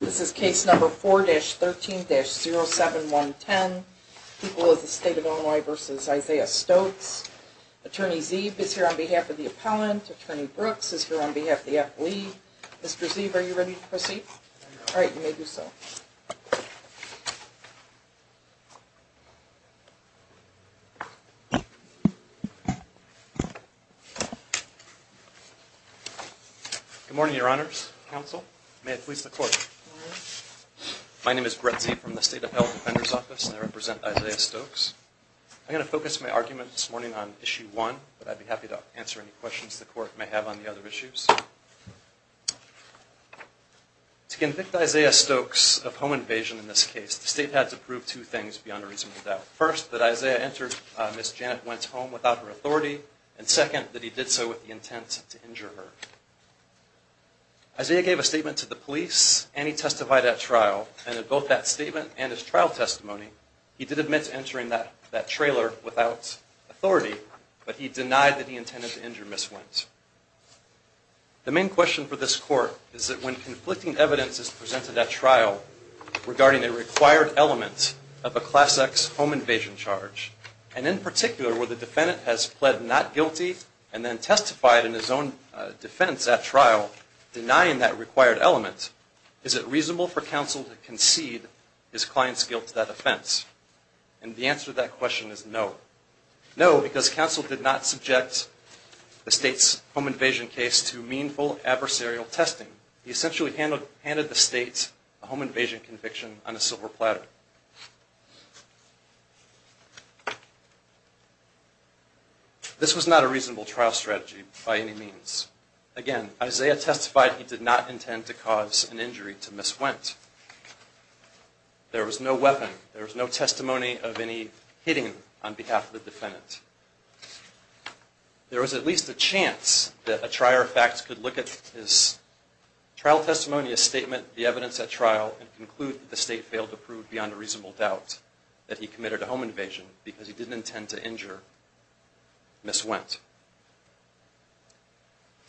This is case number 4-13-07110, People of the State of Illinois v. Isaiah Stokes. Attorney Zeeb is here on behalf of the appellant. Attorney Brooks is here on behalf of the athlete. Mr. Zeeb, are you ready to proceed? All right, you may do so. Good morning, Your Honors, Counsel. May it please the Court. My name is Brett Zeeb from the State of Illinois Health Defender's Office and I represent Isaiah Stokes. I'm going to focus my argument this morning on Issue 1, but I'd be happy to answer any questions the Court may have on the other issues. To convict Isaiah Stokes of home invasion in this case, the State had to prove two things beyond a reasonable doubt. First, that Isaiah entered Ms. Janet Wentz' home without her authority, and second, that he did so with the intent to injure her. Isaiah gave a statement to the police and he testified at trial, and in both that statement and his trial testimony, he did admit to entering that trailer without authority, but he denied that he intended to injure Ms. Wentz. The main question for this Court is that when conflicting evidence is presented at trial regarding a required element of a Class X home invasion charge, and in particular where the defendant has pled not guilty and then testified in his own defense at trial denying that required element, is it reasonable for counsel to concede his client's guilt to that offense? And the answer to that question is no. No, because counsel did not subject the State's home invasion case to meaningful adversarial testing. He essentially handed the State a home invasion conviction on a silver platter. This was not a reasonable trial strategy by any means. Again, Isaiah testified he did not intend to cause an injury to Ms. Wentz. There was no weapon, there was no testimony of any hitting on behalf of the defendant. There was at least a chance that a trier of facts could look at his trial testimony, his statement, the evidence at trial, and conclude that the State failed to prove beyond a reasonable doubt that he committed a home invasion because he didn't intend to injure Ms. Wentz.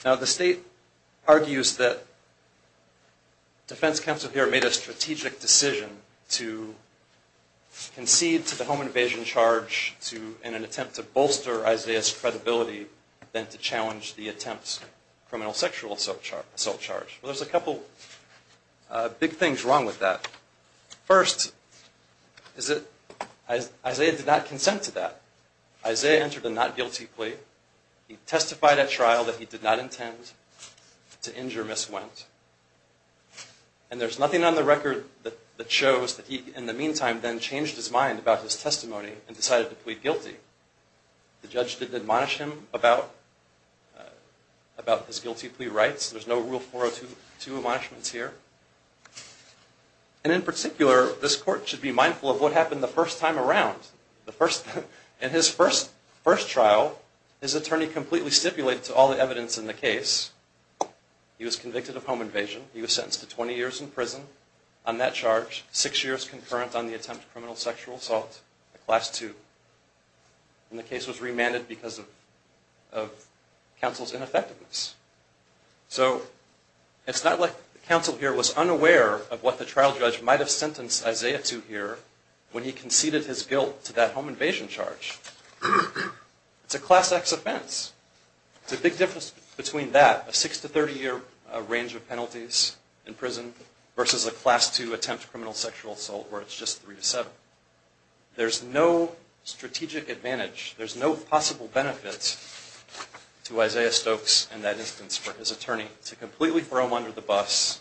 Now the State argues that defense counsel here made a strategic decision to concede to the home invasion charge in an attempt to bolster Isaiah's credibility than to challenge the attempt's criminal sexual assault charge. Well, there's a couple big things wrong with that. First, is that Isaiah did not consent to that. Isaiah entered a not guilty plea. He testified at trial that he did not intend to injure Ms. Wentz. And there's nothing on the record that shows that he, in the meantime, then changed his mind about his testimony and decided to plead guilty. The judge didn't admonish him about his guilty plea rights. There's no Rule 402 admonishments here. And in particular, this court should be mindful of what happened the first time around. In his first trial, his attorney completely stipulated to all the evidence in the case, he was convicted of home invasion. He was sentenced to 20 years in prison on that charge, six years concurrent on the attempt of criminal sexual assault, a Class II. And the case was remanded because of counsel's ineffectiveness. So it's not like the counsel here was unaware of what the trial judge might have sentenced Isaiah to here when he conceded his guilt to that home invasion charge. It's a Class X offense. It's a big difference between that, a six to 30 year range of penalties in prison, versus a Class II attempt of criminal sexual assault where it's just three to seven. There's no strategic advantage. There's no possible benefit to Isaiah Stokes in that instance for his attorney to completely throw him under the bus.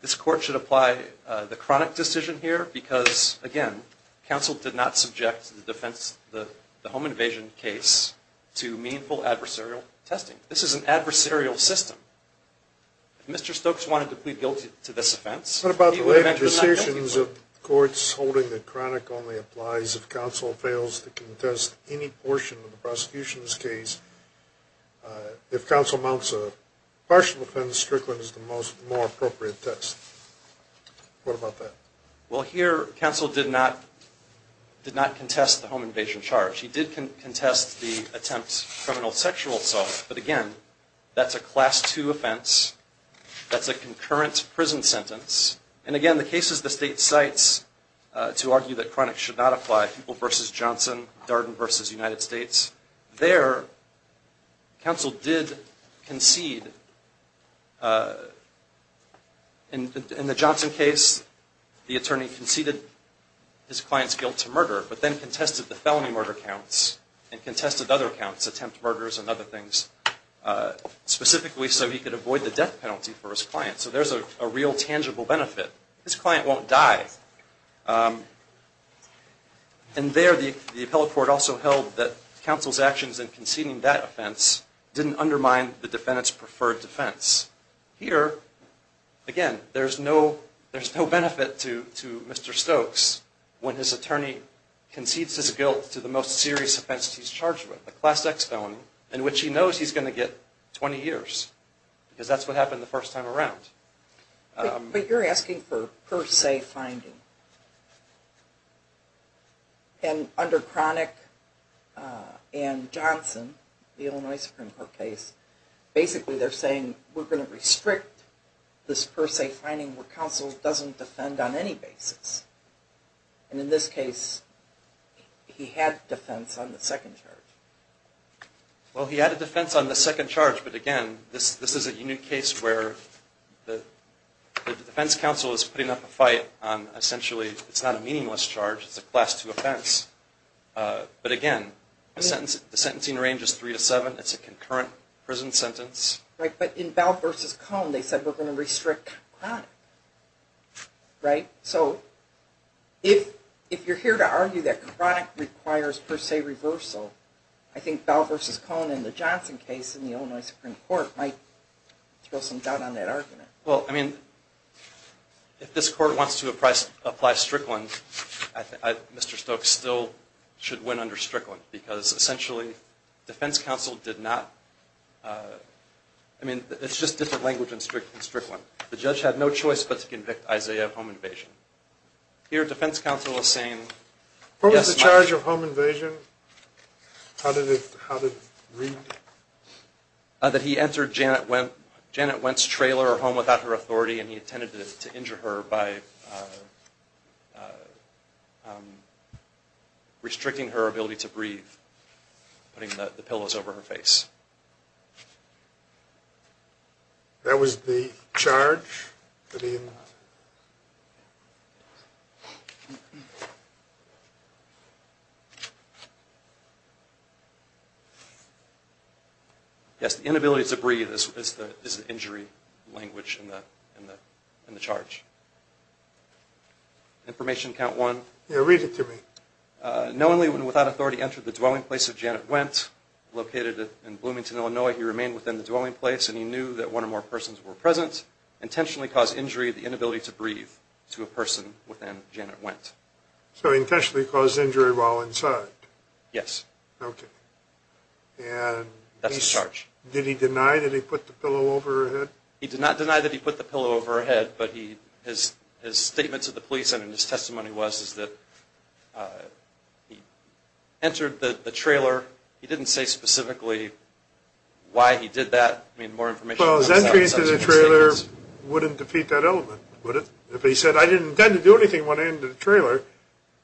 This court should apply the chronic decision here because, again, counsel did not subject the defense, the home invasion case, to meaningful adversarial testing. This is an adversarial system. If Mr. Stokes wanted to plead guilty to this offense, he would have actually not guilty. What about the way the decisions of courts holding that chronic only applies if counsel fails to contest any portion of the prosecution's case? If counsel amounts a partial offense, Strickland is the more appropriate test. What about that? Well here, counsel did not contest the home invasion charge. He did contest the attempt criminal sexual assault, but again, that's a Class II offense. That's a concurrent prison sentence. And again, the cases the state cites to argue that chronic should not apply, People V. United States, there, counsel did concede. In the Johnson case, the attorney conceded his client's guilt to murder, but then contested the felony murder counts and contested other counts, attempt murders and other things, specifically so he could avoid the death penalty for his client. So there's a real tangible benefit. His client won't die. And there, the appellate court also held that counsel's actions in conceding that offense didn't undermine the defendant's preferred defense. Here, again, there's no benefit to Mr. Stokes when his attorney concedes his guilt to the most serious offense he's charged with, the Class X felony, in which he knows he's going to get 20 years, because that's what happened the first time around. But you're asking for per se finding. And I'm not asking for per se finding. I'm asking for per se finding. So under Chronic and Johnson, the Illinois Supreme Court case, basically they're saying, we're going to restrict this per se finding where counsel doesn't defend on any basis. And in this case, he had defense on the second charge. Well, he had a defense on the second charge, but again, this is a unique case where the defense counsel is putting up a fight on, essentially, it's not a meaningless charge. It's a Class II offense. But again, the sentencing range is three to seven. It's a concurrent prison sentence. Right. But in Bell v. Cohn, they said, we're going to restrict Chronic. Right? So if you're here to argue that Chronic requires per se reversal, I think Bell v. Cohn in the Johnson case in the Illinois Supreme Court might throw some doubt on that argument. Well, I mean, if this court wants to apply Strickland, Mr. Stokes still should win under Strickland, because essentially, defense counsel did not, I mean, it's just different language in Strickland. The judge had no choice but to convict Isaiah of home invasion. Here, defense counsel is saying... What was the charge of home invasion? How did it read? That he entered Janet Wendt's trailer or home without her authority, and he intended to injure her by restricting her ability to breathe, putting the pillows over her face. That was the charge? Yes, the inability to breathe is the injury language in the charge. Information count one. Yeah, read it to me. Knowingly and without authority entered the dwelling place of Janet Wendt, located in Bloomington, Illinois. He remained within the dwelling place, and he knew that one or more persons were present. Intentionally caused injury of the inability to breathe to a person within Janet Wendt. So he intentionally caused injury while inside? Yes. Okay. And... That's the charge. Did he deny that he put the pillow over her head? He did not deny that he put the pillow over her head, but his statement to the police and his testimony was that he entered the trailer. He didn't say specifically why he did that. I mean, more information on the subject is in his statement. Well, his entry into the trailer wouldn't defeat that element, would it? If he said, I didn't intend to do anything when I entered the trailer,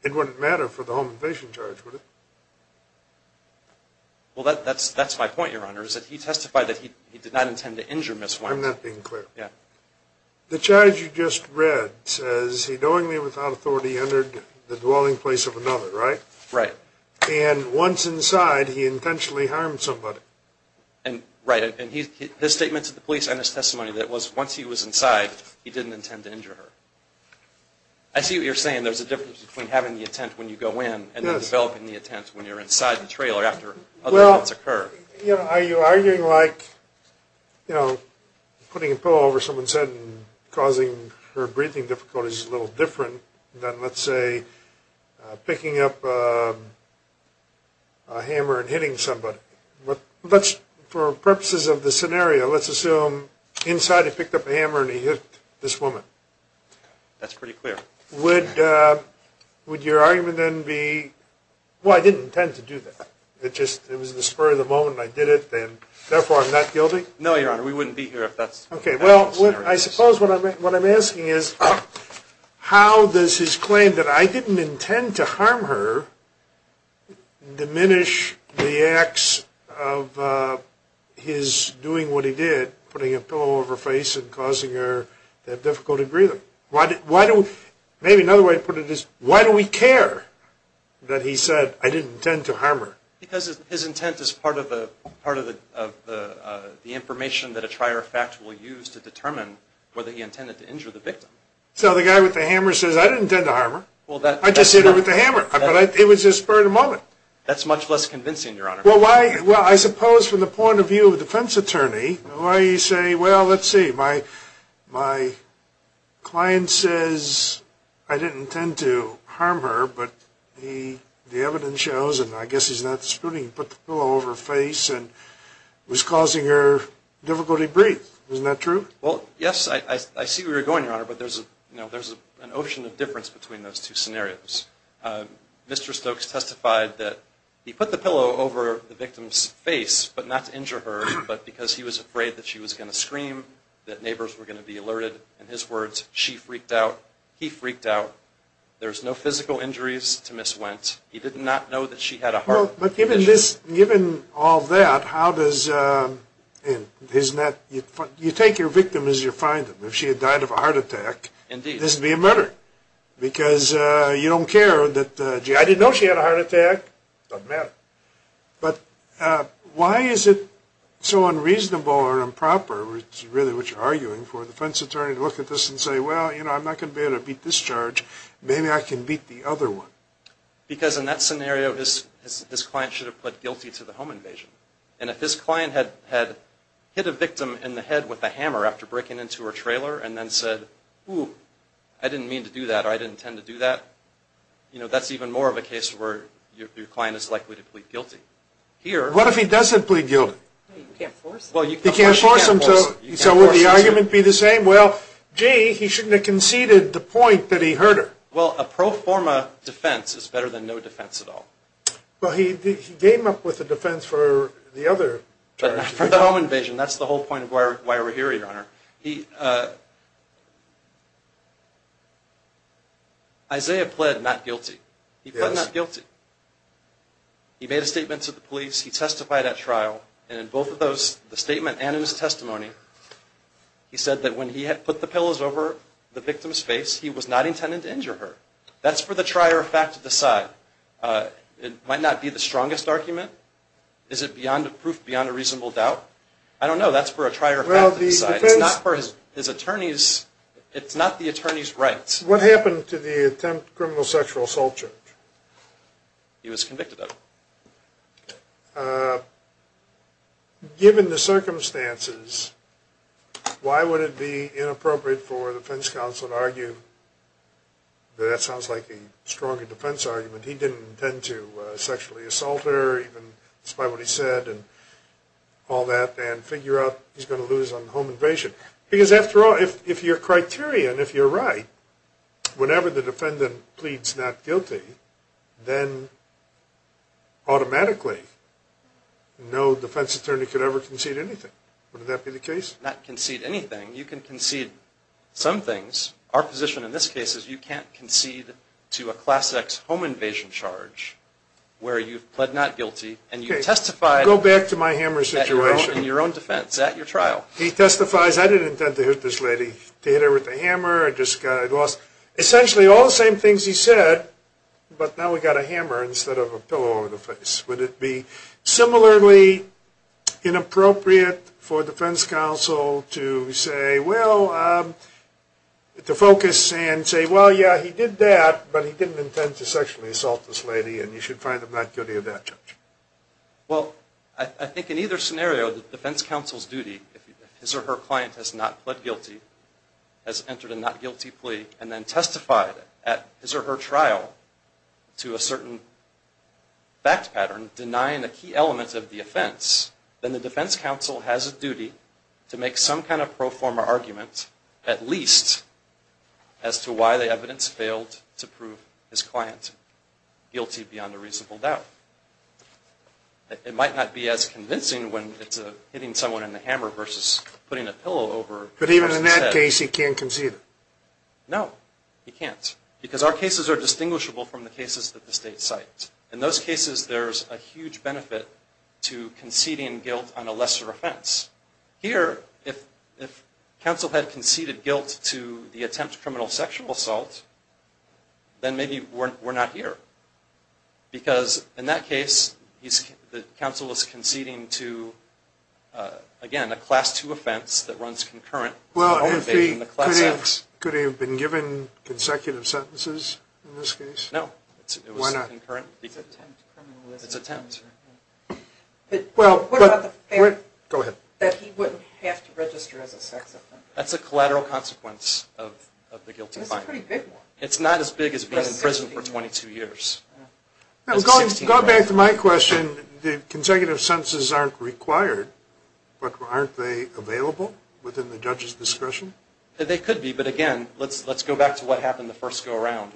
it wouldn't matter for the home and patient charge, would it? Well, that's my point, Your Honor, is that he testified that he did not intend to injure Ms. Wendt. I'm not being clear. Yeah. The charge you just read says, he knowingly and without authority entered the dwelling place of another, right? Right. And once inside, he intentionally harmed somebody. Right. And his statement to the police and his testimony was that once he was inside, he didn't intend to injure her. I see what you're saying. There's a difference between having the intent when you go in and developing the intent when you're inside the trailer after other events occur. Well, are you arguing like, you know, putting a pillow over someone's head and causing her breathing difficulties is a little different than, let's say, picking up a hammer and hitting somebody? For purposes of the scenario, let's assume inside he picked up a hammer and he hit this woman. That's pretty clear. Would your argument then be, well, I didn't intend to do that. It was just the spur of the moment and I did it and therefore I'm not guilty? No, Your Honor. We wouldn't be here if that's the case. Okay. Well, I suppose what I'm asking is, how does his claim that I didn't intend to of his doing what he did, putting a pillow over her face and causing her to have difficulty breathing. Maybe another way to put it is, why do we care that he said, I didn't intend to harm her? Because his intent is part of the information that a trier of facts will use to determine whether he intended to injure the victim. So the guy with the hammer says, I didn't intend to harm her. I just hit her with the hammer. It was just spur of the moment. That's much less convincing, Your Honor. Well, I suppose from the point of view of a defense attorney, why do you say, well, let's see, my client says, I didn't intend to harm her, but the evidence shows, and I guess he's not disputing, he put the pillow over her face and was causing her difficulty breathe. Isn't that true? Well, yes. I see where you're going, Your Honor, but there's an ocean of difference between those two scenarios. Mr. Stokes testified that he put the pillow over the victim's face, but not to injure her, but because he was afraid that she was going to scream, that neighbors were going to be alerted. In his words, she freaked out, he freaked out. There was no physical injuries to Ms. Wendt. He did not know that she had a heart condition. But given this, given all that, how does, isn't that, you take your victim as you find them. If she had died of a heart attack, this would be a murder. Because you don't care that, gee, I didn't know she had a heart attack. Doesn't matter. But why is it so unreasonable or improper, which is really what you're arguing for, a defense attorney to look at this and say, well, you know, I'm not going to be able to beat this charge. Maybe I can beat the other one. Because in that scenario, his client should have pled guilty to the home invasion. And if his client had hit a victim in the head with a hammer after breaking into her home, and he didn't intend to do that, or I didn't intend to do that, that's even more of a case where your client is likely to plead guilty. What if he doesn't plead guilty? You can't force him. He can't force him, so would the argument be the same? Well, gee, he shouldn't have conceded the point that he hurt her. Well, a pro forma defense is better than no defense at all. Well, he came up with a defense for the other charge. For the home invasion, that's the whole point of why we're here, Your Honor. Isaiah pled not guilty. He pled not guilty. He made a statement to the police, he testified at trial, and in both of those, the statement and in his testimony, he said that when he put the pillows over the victim's face, he was not intended to injure her. That's for the trier of fact to decide. It might not be the strongest argument. Is it proof beyond a reasonable doubt? I don't know. That's for a trier of fact to decide. It's not the attorney's rights. What happened to the attempt criminal sexual assault charge? He was convicted of it. Given the circumstances, why would it be inappropriate for a defense counsel to argue that that sounds like a stronger defense argument? He didn't intend to sexually assault her, even despite what he said, and all that, and figure out he's going to lose on home invasion. Because after all, if you're criterion, if you're right, whenever the defendant pleads not guilty, then automatically no defense attorney could ever concede anything. Would that be the case? Not concede anything. You can concede some things. Our position in this case is you can't concede to a Class X home invasion charge where you've pled not guilty and you've testified Go back to my hammer situation. in your own defense at your trial. He testifies, I didn't intend to hit this lady. To hit her with a hammer, I just lost. Essentially all the same things he said, but now we've got a hammer instead of a pillow over the face. Would it be similarly inappropriate for a defense counsel to say, well, to focus and say, well, yeah, he did that, but he didn't intend to sexually assault this lady and you should find him not guilty of that charge? Well, I think in either scenario, the defense counsel's duty, if his or her client has not pled guilty, has entered a not guilty plea, and then testified at his or her trial to a certain fact pattern, denying a key element of the offense, then the defense counsel has a duty to make some kind of pro forma argument at least as to why the evidence failed to prove his client guilty beyond a reasonable doubt. It might not be as convincing when it's hitting someone in the hammer versus putting a pillow over his head. But even in that case, he can't concede? No, he can't. Because our cases are distinguishable from the cases that the state cites. In those cases, there's a huge benefit to conceding guilt on a lesser offense. Here, if counsel had conceded guilt to the attempt to criminal sexual assault, then maybe we're not here. Because in that case, the counsel is conceding to, again, a Class II offense that runs concurrent. Well, could he have been given consecutive sentences in this case? No. Why not? It's attempt. What about the fact that he wouldn't have to register as a sex offender? That's a collateral consequence of the guilty fine. That's a pretty big one. It's not as big as being in prison for 22 years. Going back to my question, the consecutive sentences aren't required, but aren't they available within the judge's discretion? They could be, but again, let's go back to what happened in the first go-around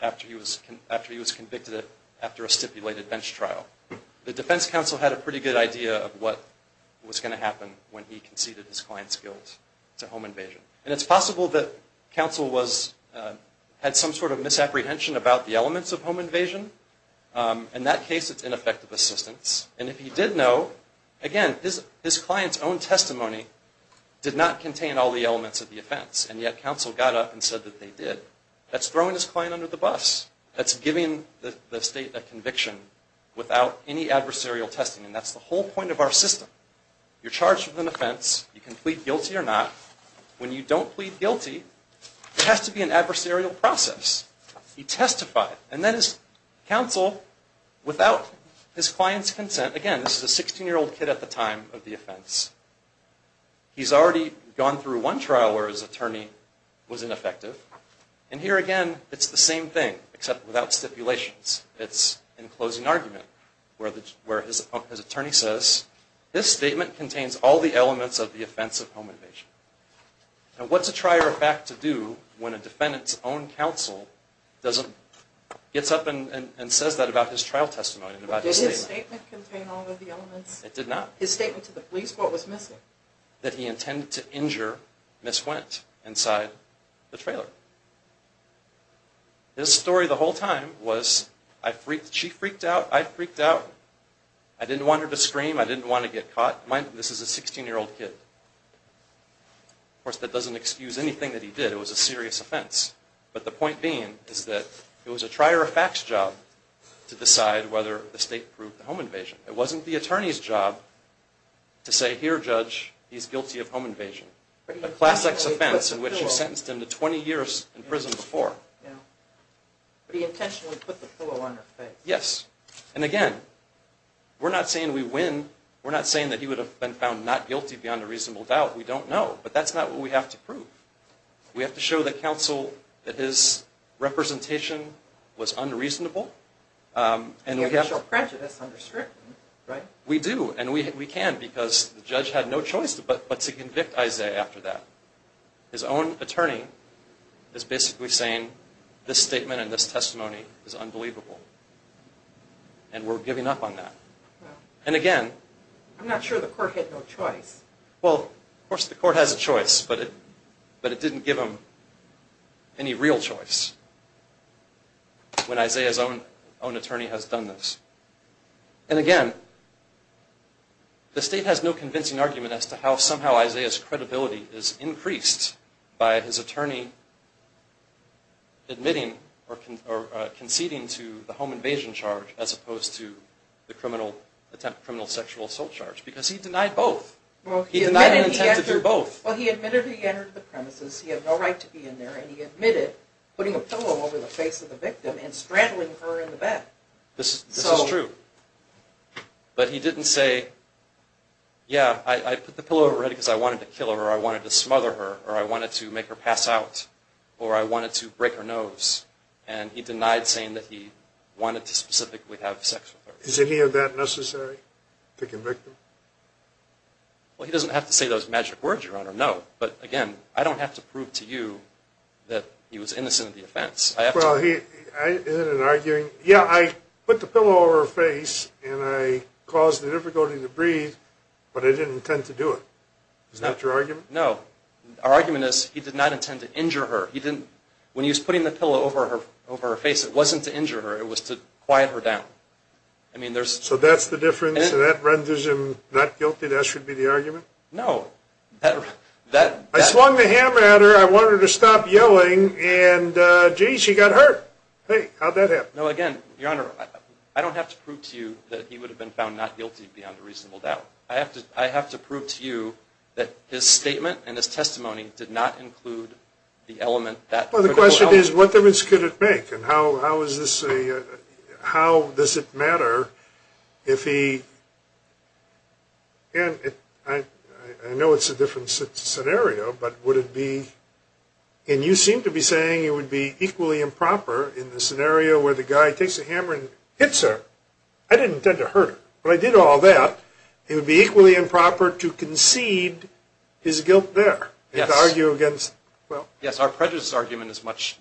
after he was convicted after a stipulated bench trial. The defense counsel had a pretty good idea of what was going to happen when he conceded his client's guilt to home invasion. And it's possible that counsel had some sort of misapprehension about the elements of home invasion. In that case, it's ineffective assistance. And if he did know, again, his client's own testimony did not contain all the elements of the offense. And yet, counsel got up and said that they did. That's throwing his client under the bus. That's giving the state a conviction without any adversarial testing. And that's the whole point of our system. You're charged with an offense. You can plead guilty or not. When you don't plead guilty, it has to be an adversarial process. He testified. And then his counsel, without his client's consent, again, this is a 16-year-old kid at the time of the offense, he's already gone through one trial where his attorney was ineffective. And here again, it's the same thing, except without stipulations. It's in closing argument, where his attorney says, this statement contains all the elements of the offense of home invasion. Now, what's a trier of fact to do when a defendant's own counsel gets up and says that about his trial testimony and about his statement? Did his statement contain all of the elements? It did not. His statement to the police, what was missing? That he intended to injure Ms. Wendt inside the trailer. His story the whole time was, she freaked out, I freaked out, I didn't want her to scream, I didn't want to get caught. This is a 16-year-old kid. Of course, that doesn't excuse anything that he did. It was a serious offense. But the point being is that it was a trier of facts job to decide whether the state proved the home invasion. It wasn't the attorney's job to say, here judge, he's guilty of home invasion. A class X offense in which you sentenced him to 20 years in prison before. But he intentionally put the pillow on her face. Yes. And again, we're not saying we win, we're not saying that he would have been found not guilty beyond a reasonable doubt, we don't know. But that's not what we have to prove. We have to show the counsel that his representation was unreasonable. We have to show prejudice under scrutiny, right? We do, and we can, because the judge had no choice but to convict Isaiah after that. His own attorney is basically saying, this statement and this testimony is unbelievable. And we're giving up on that. And again... I'm not sure the court had no choice. Well, of course the court has a choice, but it didn't give him any real choice. When Isaiah's own attorney has done this. And again, the state has no convincing argument as to how somehow Isaiah's credibility is increased by his attorney admitting or conceding to the home invasion charge as opposed to the criminal sexual assault charge. Because he denied both. He denied an attempt to do both. Well, he admitted he entered the premises, he had no right to be in there, and he admitted putting a pillow over the face of the victim and straddling her in the back. This is true. But he didn't say, yeah, I put the pillow over her head because I wanted to kill her or I wanted to smother her or I wanted to make her pass out or I wanted to break her nose. And he denied saying that he wanted to specifically have sex with her. Is any of that necessary? To convict him? Well, he doesn't have to say those magic words, Your Honor, no. But again, I don't have to prove to you that he was innocent of the offense. Well, is it an arguing? Yeah, I put the pillow over her face and I caused the difficulty to breathe, but I didn't intend to do it. Is that your argument? No. Our argument is he did not intend to injure her. When he was putting the pillow over her face, it wasn't to injure her, it was to quiet her down. So that's the difference and that renders him not guilty? That should be the argument? No, that... I swung the hammer at her, I wanted her to stop yelling and, gee, she got hurt. Hey, how'd that happen? No, again, Your Honor, I don't have to prove to you that he would have been found not guilty beyond a reasonable doubt. I have to prove to you that his statement and his testimony did not include the element that... Well, the question is, what difference could it make and how does it matter if he... And I know it's a different scenario, but would it be... And you seem to be saying it would be equally improper in the scenario where the guy takes a hammer and hits her. I didn't intend to hurt her, but I did all that. It would be equally improper to concede his guilt there and to argue against... Yes, our prejudice argument is much...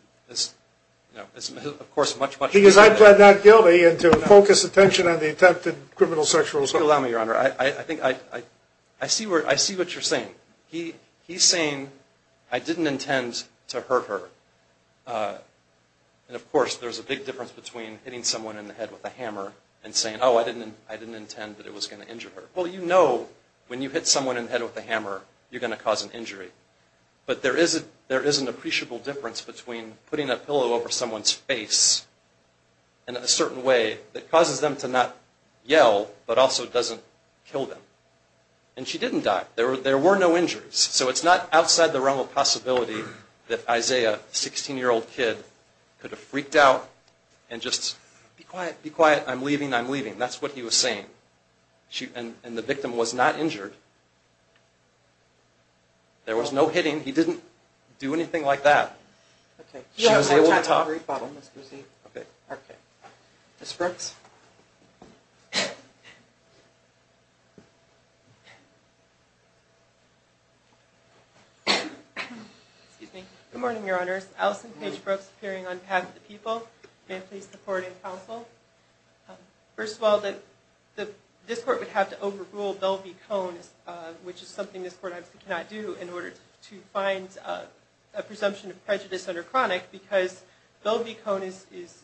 Because I pled not guilty and to focus attention on the attempted criminal sexual assault. Please allow me, Your Honor. I see what you're saying. He's saying, I didn't intend to hurt her. And, of course, there's a big difference between hitting someone in the head with a hammer and saying, oh, I didn't intend that it was going to injure her. Well, you know when you hit someone in the head with a hammer you're going to cause an injury. But there is an appreciable difference between putting a pillow over someone's face in a certain way that causes them to not yell but also doesn't kill them. And she didn't die. There were no injuries. So it's not outside the realm of possibility that Isaiah, a 16-year-old kid, could have freaked out and just, be quiet, be quiet, I'm leaving, I'm leaving. That's what he was saying. And the victim was not injured. There was no hitting. He didn't do anything like that. She was able to talk. Sorry about all this. Ms. Brooks? Good morning, Your Honors. Allison Paige Brooks, appearing on behalf of the people. May I please support and counsel? First of all, this Court would have to overrule Belle v. Cone, which is something this Court obviously cannot do in order to find a presumption of prejudice under chronic because Belle v. Cone is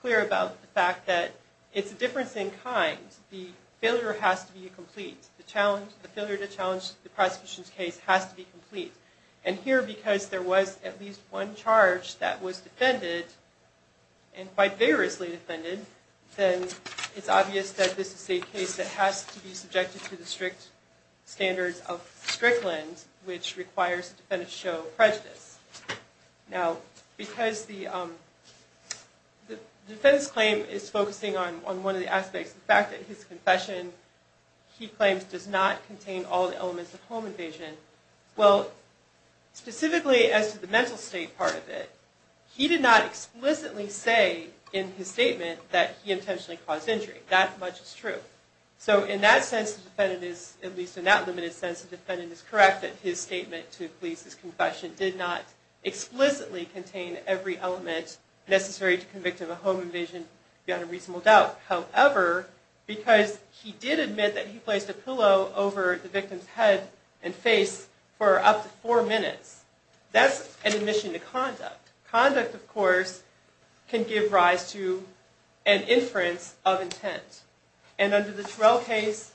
clear about the fact that it's a difference in kind. The failure has to be complete. The failure to challenge the prosecution's case has to be complete. And here, because there was at least one charge that was defended and quite vigorously defended, then it's obvious that this is a case that has to be subjected to the strict standards of Strickland which requires the defendant to show prejudice. Now, because the defendant's claim is focusing on one of the aspects, the fact that his confession he claims does not contain all the elements of home invasion, well, specifically as to the mental state part of it, he did not explicitly say in his statement that he intentionally caused injury. That much is true. So in that sense, the defendant is, at least in that limited sense, the defendant is correct that his statement to police his confession did not explicitly contain every element necessary to convict him of home invasion beyond a reasonable doubt. However, because he did admit that he placed a pillow over the victim's head and face for up to four minutes, that's an admission to conduct. Conduct, of course, can give rise to an inference of intent. And under the Terrell case,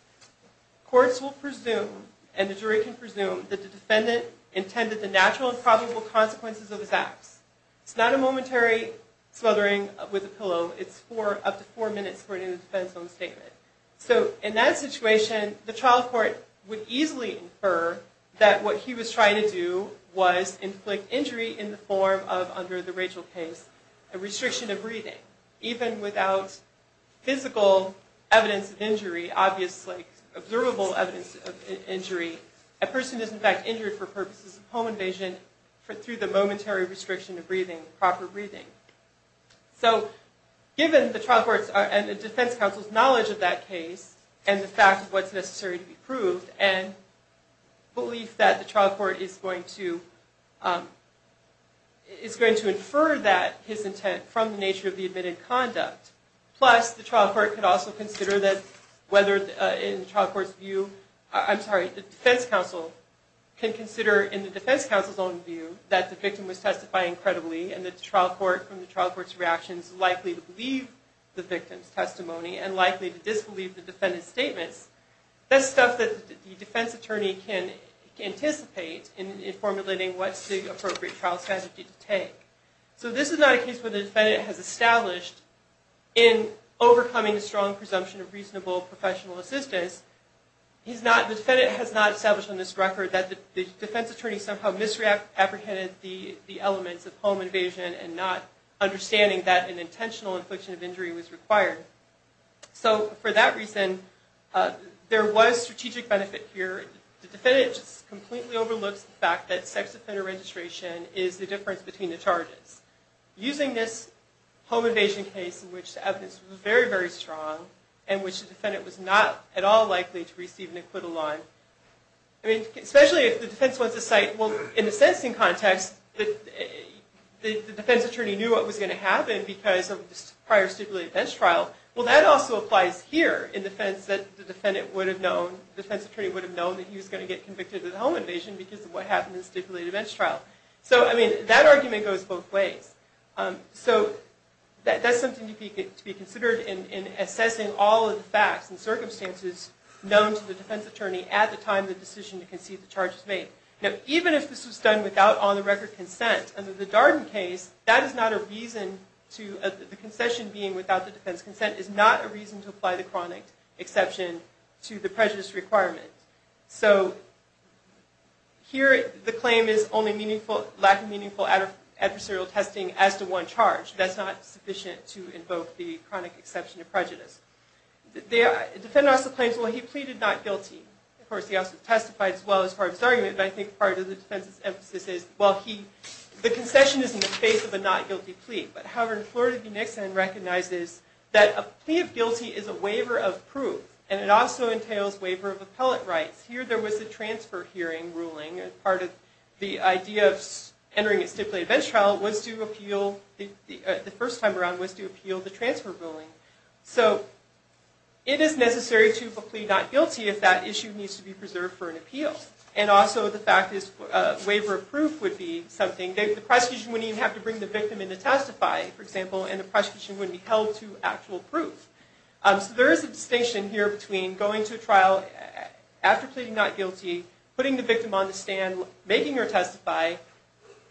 courts will presume that the defendant intended the natural and probable consequences of his acts. It's not a momentary smothering with a pillow. It's up to four minutes according to the defense own statement. So in that situation, the trial court would easily infer that what he was trying to do was inflict injury in the form of, under the Rachel case, a restriction of breathing. Even without physical evidence of injury, obviously, observable evidence of injury, a person is, in fact, injured for purposes of home invasion through the momentary restriction of breathing, proper breathing. So, given the trial court's and the defense counsel's knowledge of that case, and the fact of what's necessary to be proved, and belief that the trial court is going to infer that his intent from the nature of the admitted conduct. Plus, the trial court could also consider that whether, in the trial court's view, I'm sorry, the defense counsel can consider, in the defense counsel's own view, that the victim was testifying credibly, and that the trial court, from the trial court's reactions, likely to believe the victim's testimony, and likely to disbelieve the defendant's statements. That's stuff that the defense attorney can anticipate in formulating what's the appropriate trial strategy to take. So this is not a case where the defendant has established in overcoming the strong presumption of reasonable professional assistance. The defendant has not established on this record that the defense attorney somehow misapprehended the elements of home invasion, and not understanding that an intentional infliction of injury was required. So, for that reason, there was strategic benefit here. The defendant just completely overlooks the fact that sex offender registration is the difference between the charges. Using this home invasion case, in which the evidence was very, very strong, and which the defendant was not at all likely to receive an acquittal on. I mean, especially if the defense wants to cite, well, in the sentencing context, the defense attorney knew what was going to happen because of this prior stipulated bench trial. Well, that also applies here in defense that the defendant would have known, the defense attorney would have known, that he was going to get convicted of the home invasion because of what happened in the stipulated bench trial. So, I mean, that argument goes both ways. So, that's something to be considered in assessing all of the facts and circumstances known to the defense attorney at the time of the decision to concede the charges made. Now, even if this was done without on-the-record consent, under the Darden case, that is not a reason to, the concession being without the defense consent, is not a reason to apply the chronic exception to the prejudice requirement. So, here, the claim is only lack of meaningful adversarial testing as to one charge. That's not sufficient to invoke the chronic exception to prejudice. The defendant also claims, well, he pleaded not guilty. Of course, he also testified, as well, as part of his argument, but I think part of the defense's emphasis is, well, he, the concession is in the face of a not guilty plea. But, however, in Florida v. Nixon recognizes that a plea of guilty is a waiver of proof, and it also entails waiver of appellate rights. Here, there was a transfer hearing ruling as part of the idea of entering a stipulated bench trial was to appeal, the first time around, was to appeal the transfer ruling. So, it is necessary to plead not guilty if that issue needs to be preserved for an appeal. And also, the fact is, a waiver of proof would be something. The prosecution wouldn't even have to bring the victim in to testify, for example, and the prosecution wouldn't be held to actual proof. So, there is a distinction here between going to a trial after pleading not guilty, putting the victim on the stand, making her testify,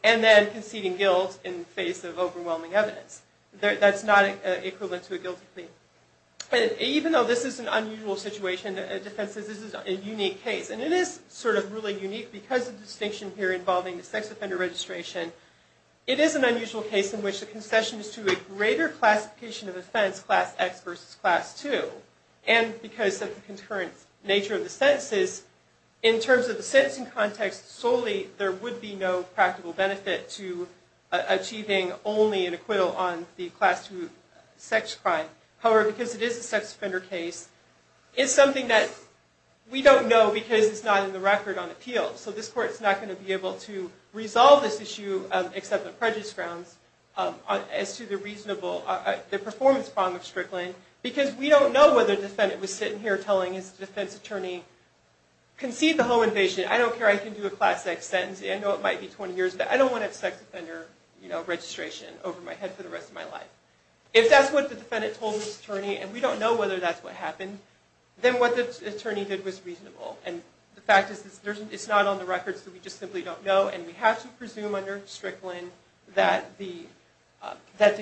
and then conceding guilt in the face of overwhelming evidence. That's not equivalent to a guilty plea. Even though this is an unusual situation, the defense says this is a unique case. And it is sort of really unique because of the distinction here involving the sex offender registration. It is an unusual case in which the concession is to a greater classification of offense, class X versus class 2, and because of the concurrent nature of the sentences, in terms of the sentencing context, solely there would be no practical benefit to achieving only an acquittal on the class 2 sex crime. However, because it is a sex offender case, it's something that we don't know because it's not in the record on appeal. So, this court's not going to be able to resolve this issue, except on prejudice grounds, as to the performance problem of Strickland, because we don't know whether the defendant was sitting here telling his defense attorney, concede the whole invasion, I don't care, I can do a class X sentence, I know it might be 20 years, but I don't want a sex offender registration over my head for the rest of my life. If that's what the defendant told his attorney, and we don't know whether that's what happened, then what the attorney did was reasonable. And the fact is, it's not on the record, so we just simply don't know, and we have to presume under Strickland that the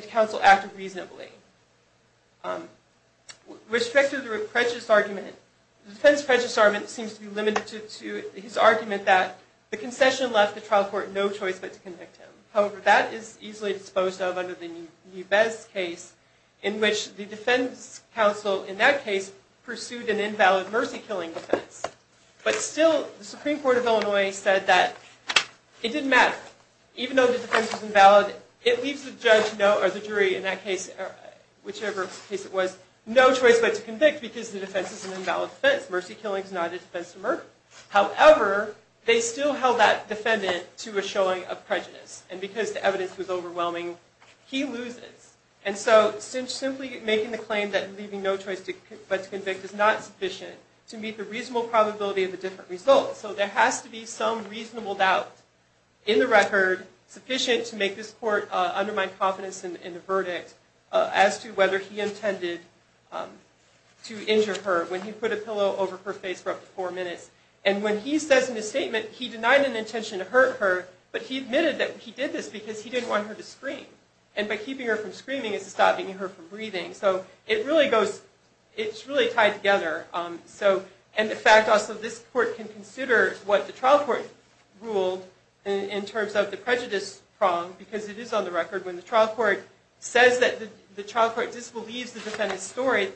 counsel acted reasonably. With respect to the prejudice argument, the defense prejudice argument seems to be limited to his argument that the concession left the trial court no choice but to convict him. However, that is easily disposed of under the Nubez case, in which the defense counsel, in that case, pursued an invalid mercy killing defense. But still, the Supreme Court of Illinois said that it didn't matter. Even though the defense was invalid, it leaves the jury, in that case, whichever case it was, no choice but to convict because the defense is an invalid defense. Mercy killing is not a defense of murder. However, they still held that defendant to a showing of prejudice. And because the evidence was overwhelming, he loses. And so simply making the claim that leaving no choice but to convict is not sufficient to meet the reasonable probability of the different results. So there has to be some reasonable doubt in the record sufficient to make this court undermine confidence in the verdict as to whether he intended to injure her when he put a pillow over her face for up to four minutes. And when he says in his statement, he denied an intention to hurt her, but he admitted that he did this because he didn't want her to scream. And by keeping her from screaming, it's stopping her from breathing. So it really goes it's really tied together. So, and in fact, also this court can consider what the trial court ruled in because it is on the record when the trial court says that the trial court disbelieves the defendant's story,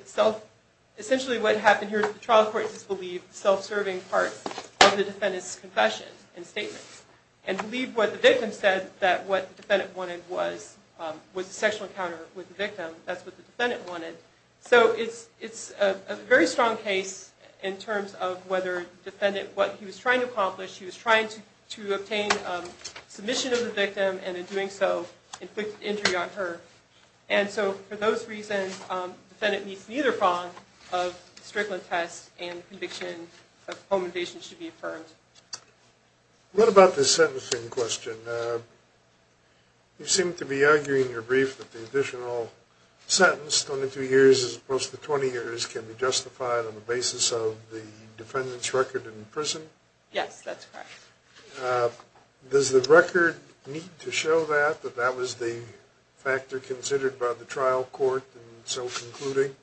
essentially what happened here is the trial court disbelieved the self-serving part of the defendant's confession and statement. And believed what the victim said that what the defendant wanted was was a sexual encounter with the victim. That's what the defendant wanted. So it's a very strong case in terms of whether the defendant, what he was trying to accomplish, he was trying to obtain submission of the victim and in doing so inflicted injury on her. And so for those reasons defendant meets neither fond of the Strickland test and conviction of home invasion should be affirmed. What about this sentencing question? You seem to be arguing in your brief that the additional sentence, 22 years as opposed to 20 years, can be justified on the basis of the defendant's record in prison? Yes, that's correct. Does the record need to show that that that was the factor considered by the trial court in so concluding?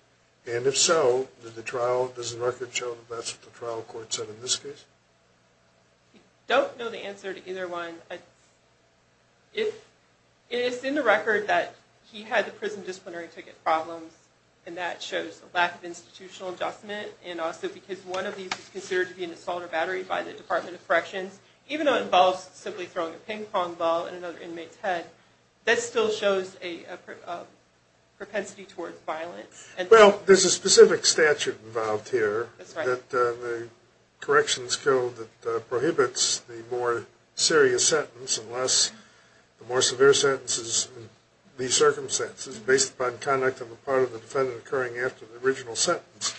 And if so does the record show that's what the trial court said in this case? I don't know the answer to either one. It's in the record that he had the prison disciplinary ticket problems and that shows a lack of institutional adjustment and also because one of these is considered to be an assault or battery by the Department of Corrections even though it involves simply throwing a ping pong ball in another inmate's head that still shows a propensity towards violence. Well, there's a specific statute involved here that the corrections code that prohibits the more serious sentence unless the more severe sentence is in these circumstances based upon conduct on the part of the defendant occurring after the original sentence.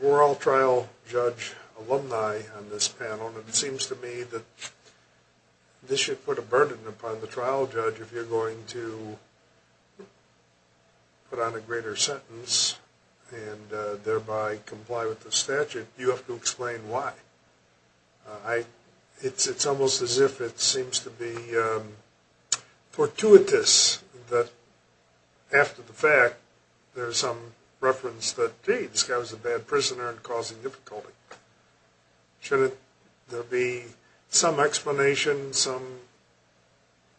We're all trial judge alumni on this panel and it seems to me that this should put a burden upon the trial judge if you're going to put on a greater sentence and thereby comply with the statute. You have to explain why. It's almost as if it seems to be fortuitous that after the fact there's some reference that this guy was a bad prisoner and causing difficulty. Should there be some explanation of some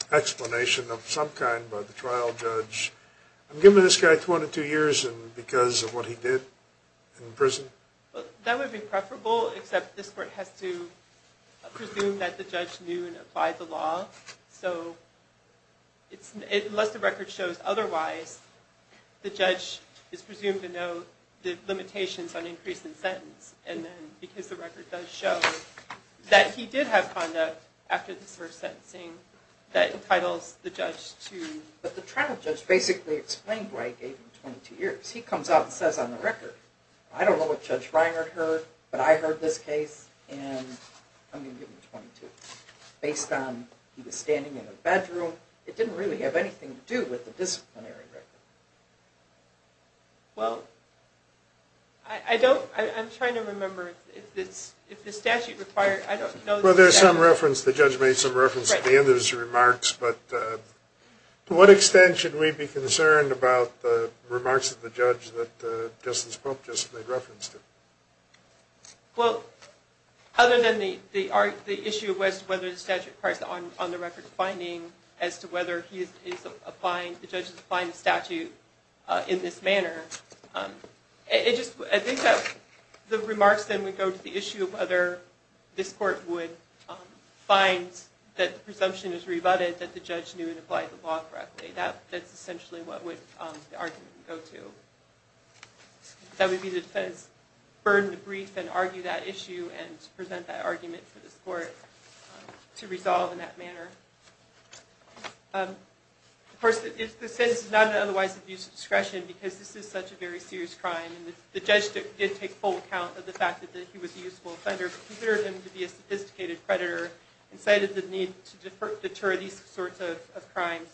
kind by the trial judge given this guy 22 years because of what he did in prison? That would be preferable except this court has to presume that the judge knew and applied the law. Unless the record shows otherwise the judge is presumed to know the limitations on increase in sentence and then because the record does show that he did have conduct after this first sentencing that entitles the judge to But the trial judge basically explained why he gave him 22 years. He comes out and says on the record, I don't know what Judge Reinert heard, but I heard this case and I'm going to give him 22. Based on he was standing in a bedroom it didn't really have anything to do with the disciplinary record. Well I don't, I'm trying to remember if the statute required, I don't know. Well there's some reference, the judge made some reference at the end of his remarks, but to what extent should we be concerned about the remarks of the judge that Justice Pope just made reference to? Well, other than the issue was whether the statute requires on the record finding as to whether the judge is applying the statute in this manner I think that the remarks then would go to the issue of whether this court would find that the presumption is rebutted that the judge knew and applied the law correctly. That's essentially what would That would be the defense burn the brief and argue that issue and present that argument to this court to resolve in that manner. Of course the sentence is not an otherwise abuse of discretion because this is such a very serious crime and the judge did take full account of the fact that he was a useful offender but considered him to be a sophisticated predator and cited the need to deter these sorts of crimes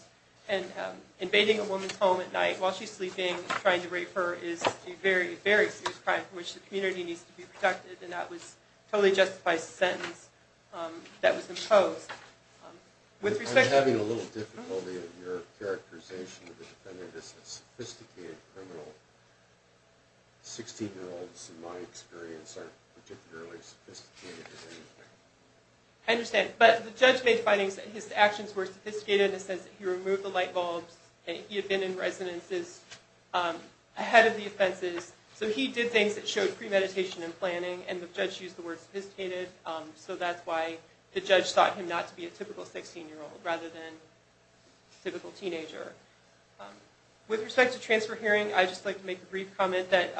and invading a woman's home at night while she's sleeping and trying to rape her is a very, very serious crime for which the community needs to be protected and that totally justifies the sentence that was imposed I'm having a little difficulty in your characterization of the defendant as a sophisticated criminal 16 year olds in my experience aren't particularly sophisticated as anything I understand, but the judge made findings that his actions were sophisticated he removed the light bulbs he had been in residences ahead of the offenses so he did things that showed premeditation and planning and the judge used the word sophisticated, so that's why the judge sought him not to be a typical 16 year old rather than a typical teenager With respect to transfer hearing, I'd just like to make a brief comment that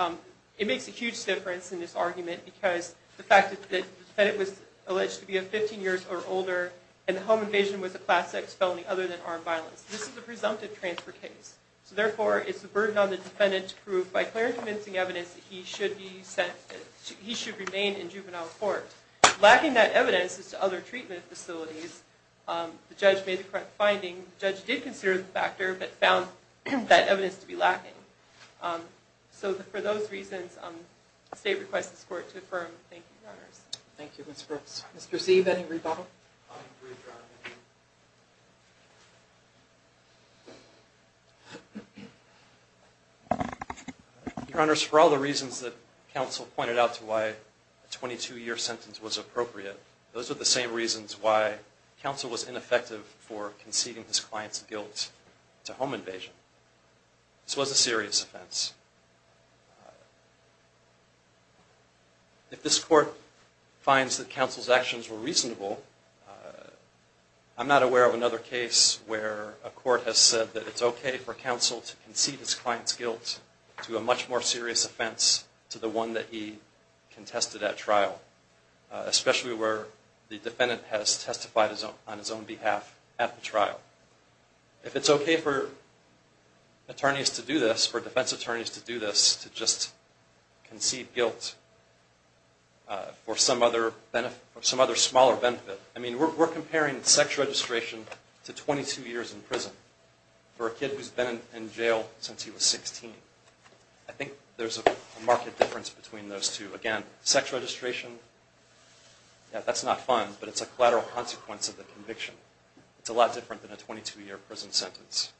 it makes a huge difference in this argument because the fact that the defendant was alleged to be 15 years or older and the home invasion was a Class X felony other than armed violence. This is a presumptive transfer case, so therefore it's a burden on the defendant to prove by clear and convincing evidence that he should remain in juvenile court Lacking that evidence as to other treatment facilities the judge made the correct finding the judge did consider the factor but found that evidence to be lacking so for those reasons the state requests this court to affirm. Thank you, Your Honors Thank you, Mr. Brooks. Mr. Sieve, any rebuttal? Your Honors, for all the reasons that counsel pointed out to why a 22 year sentence was appropriate those are the same reasons why counsel was ineffective for conceding his client's guilt to home invasion This was a serious offense If this court finds that counsel's actions were reasonable I'm not aware of another case where a court has said that it's okay for counsel to concede his client's guilt to a much more serious offense to the one that he contested at trial especially where the defendant has testified on his own behalf at the trial If it's okay for attorneys to do this, for defense attorneys to do this, to just concede guilt for some other smaller benefit, I mean we're comparing sex registration to 22 years in prison for a kid who's been in jail since he was 16 I think there's a marked difference between those two. Again, sex registration that's not fun, but it's a collateral consequence of the conviction. It's a lot different than a 22 year prison sentence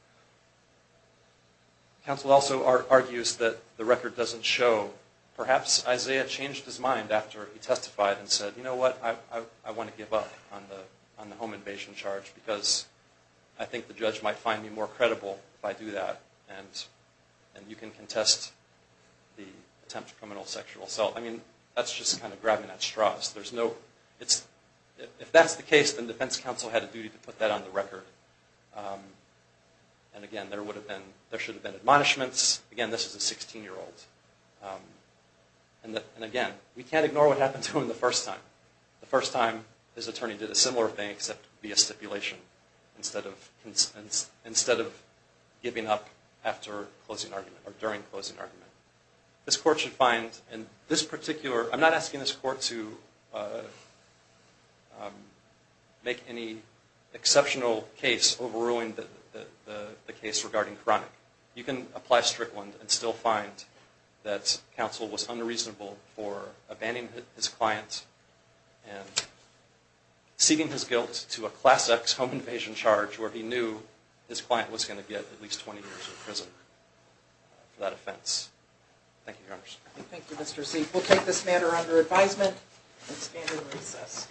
Counsel also argues that the record doesn't show, perhaps Isaiah changed his mind after he testified and said you know what, I want to give up on the home invasion charge because I think the judge might find me more credible if I do that and you can contest the attempt to criminal sexual assault. I mean, that's just kind of grabbing at straws. There's no if that's the case, then defense counsel had a duty to put that on the record and again there should have been admonishments again, this is a 16 year old and again we can't ignore what happened to him the first time the first time his attorney did a similar thing except via stipulation instead of giving up after closing argument, or during closing argument this court should find in this particular, I'm not asking this court to make any exceptional case overruling the case regarding chronic. You can apply Strickland and still find that counsel was unreasonable for abandoning his client and ceding his guilt to a Class X home invasion charge where he knew his client was going to get at least 20 years in prison for that offense. Thank you, Your Honor. Thank you, Mr. Seif. We'll take this matter under advisement and stand in recess.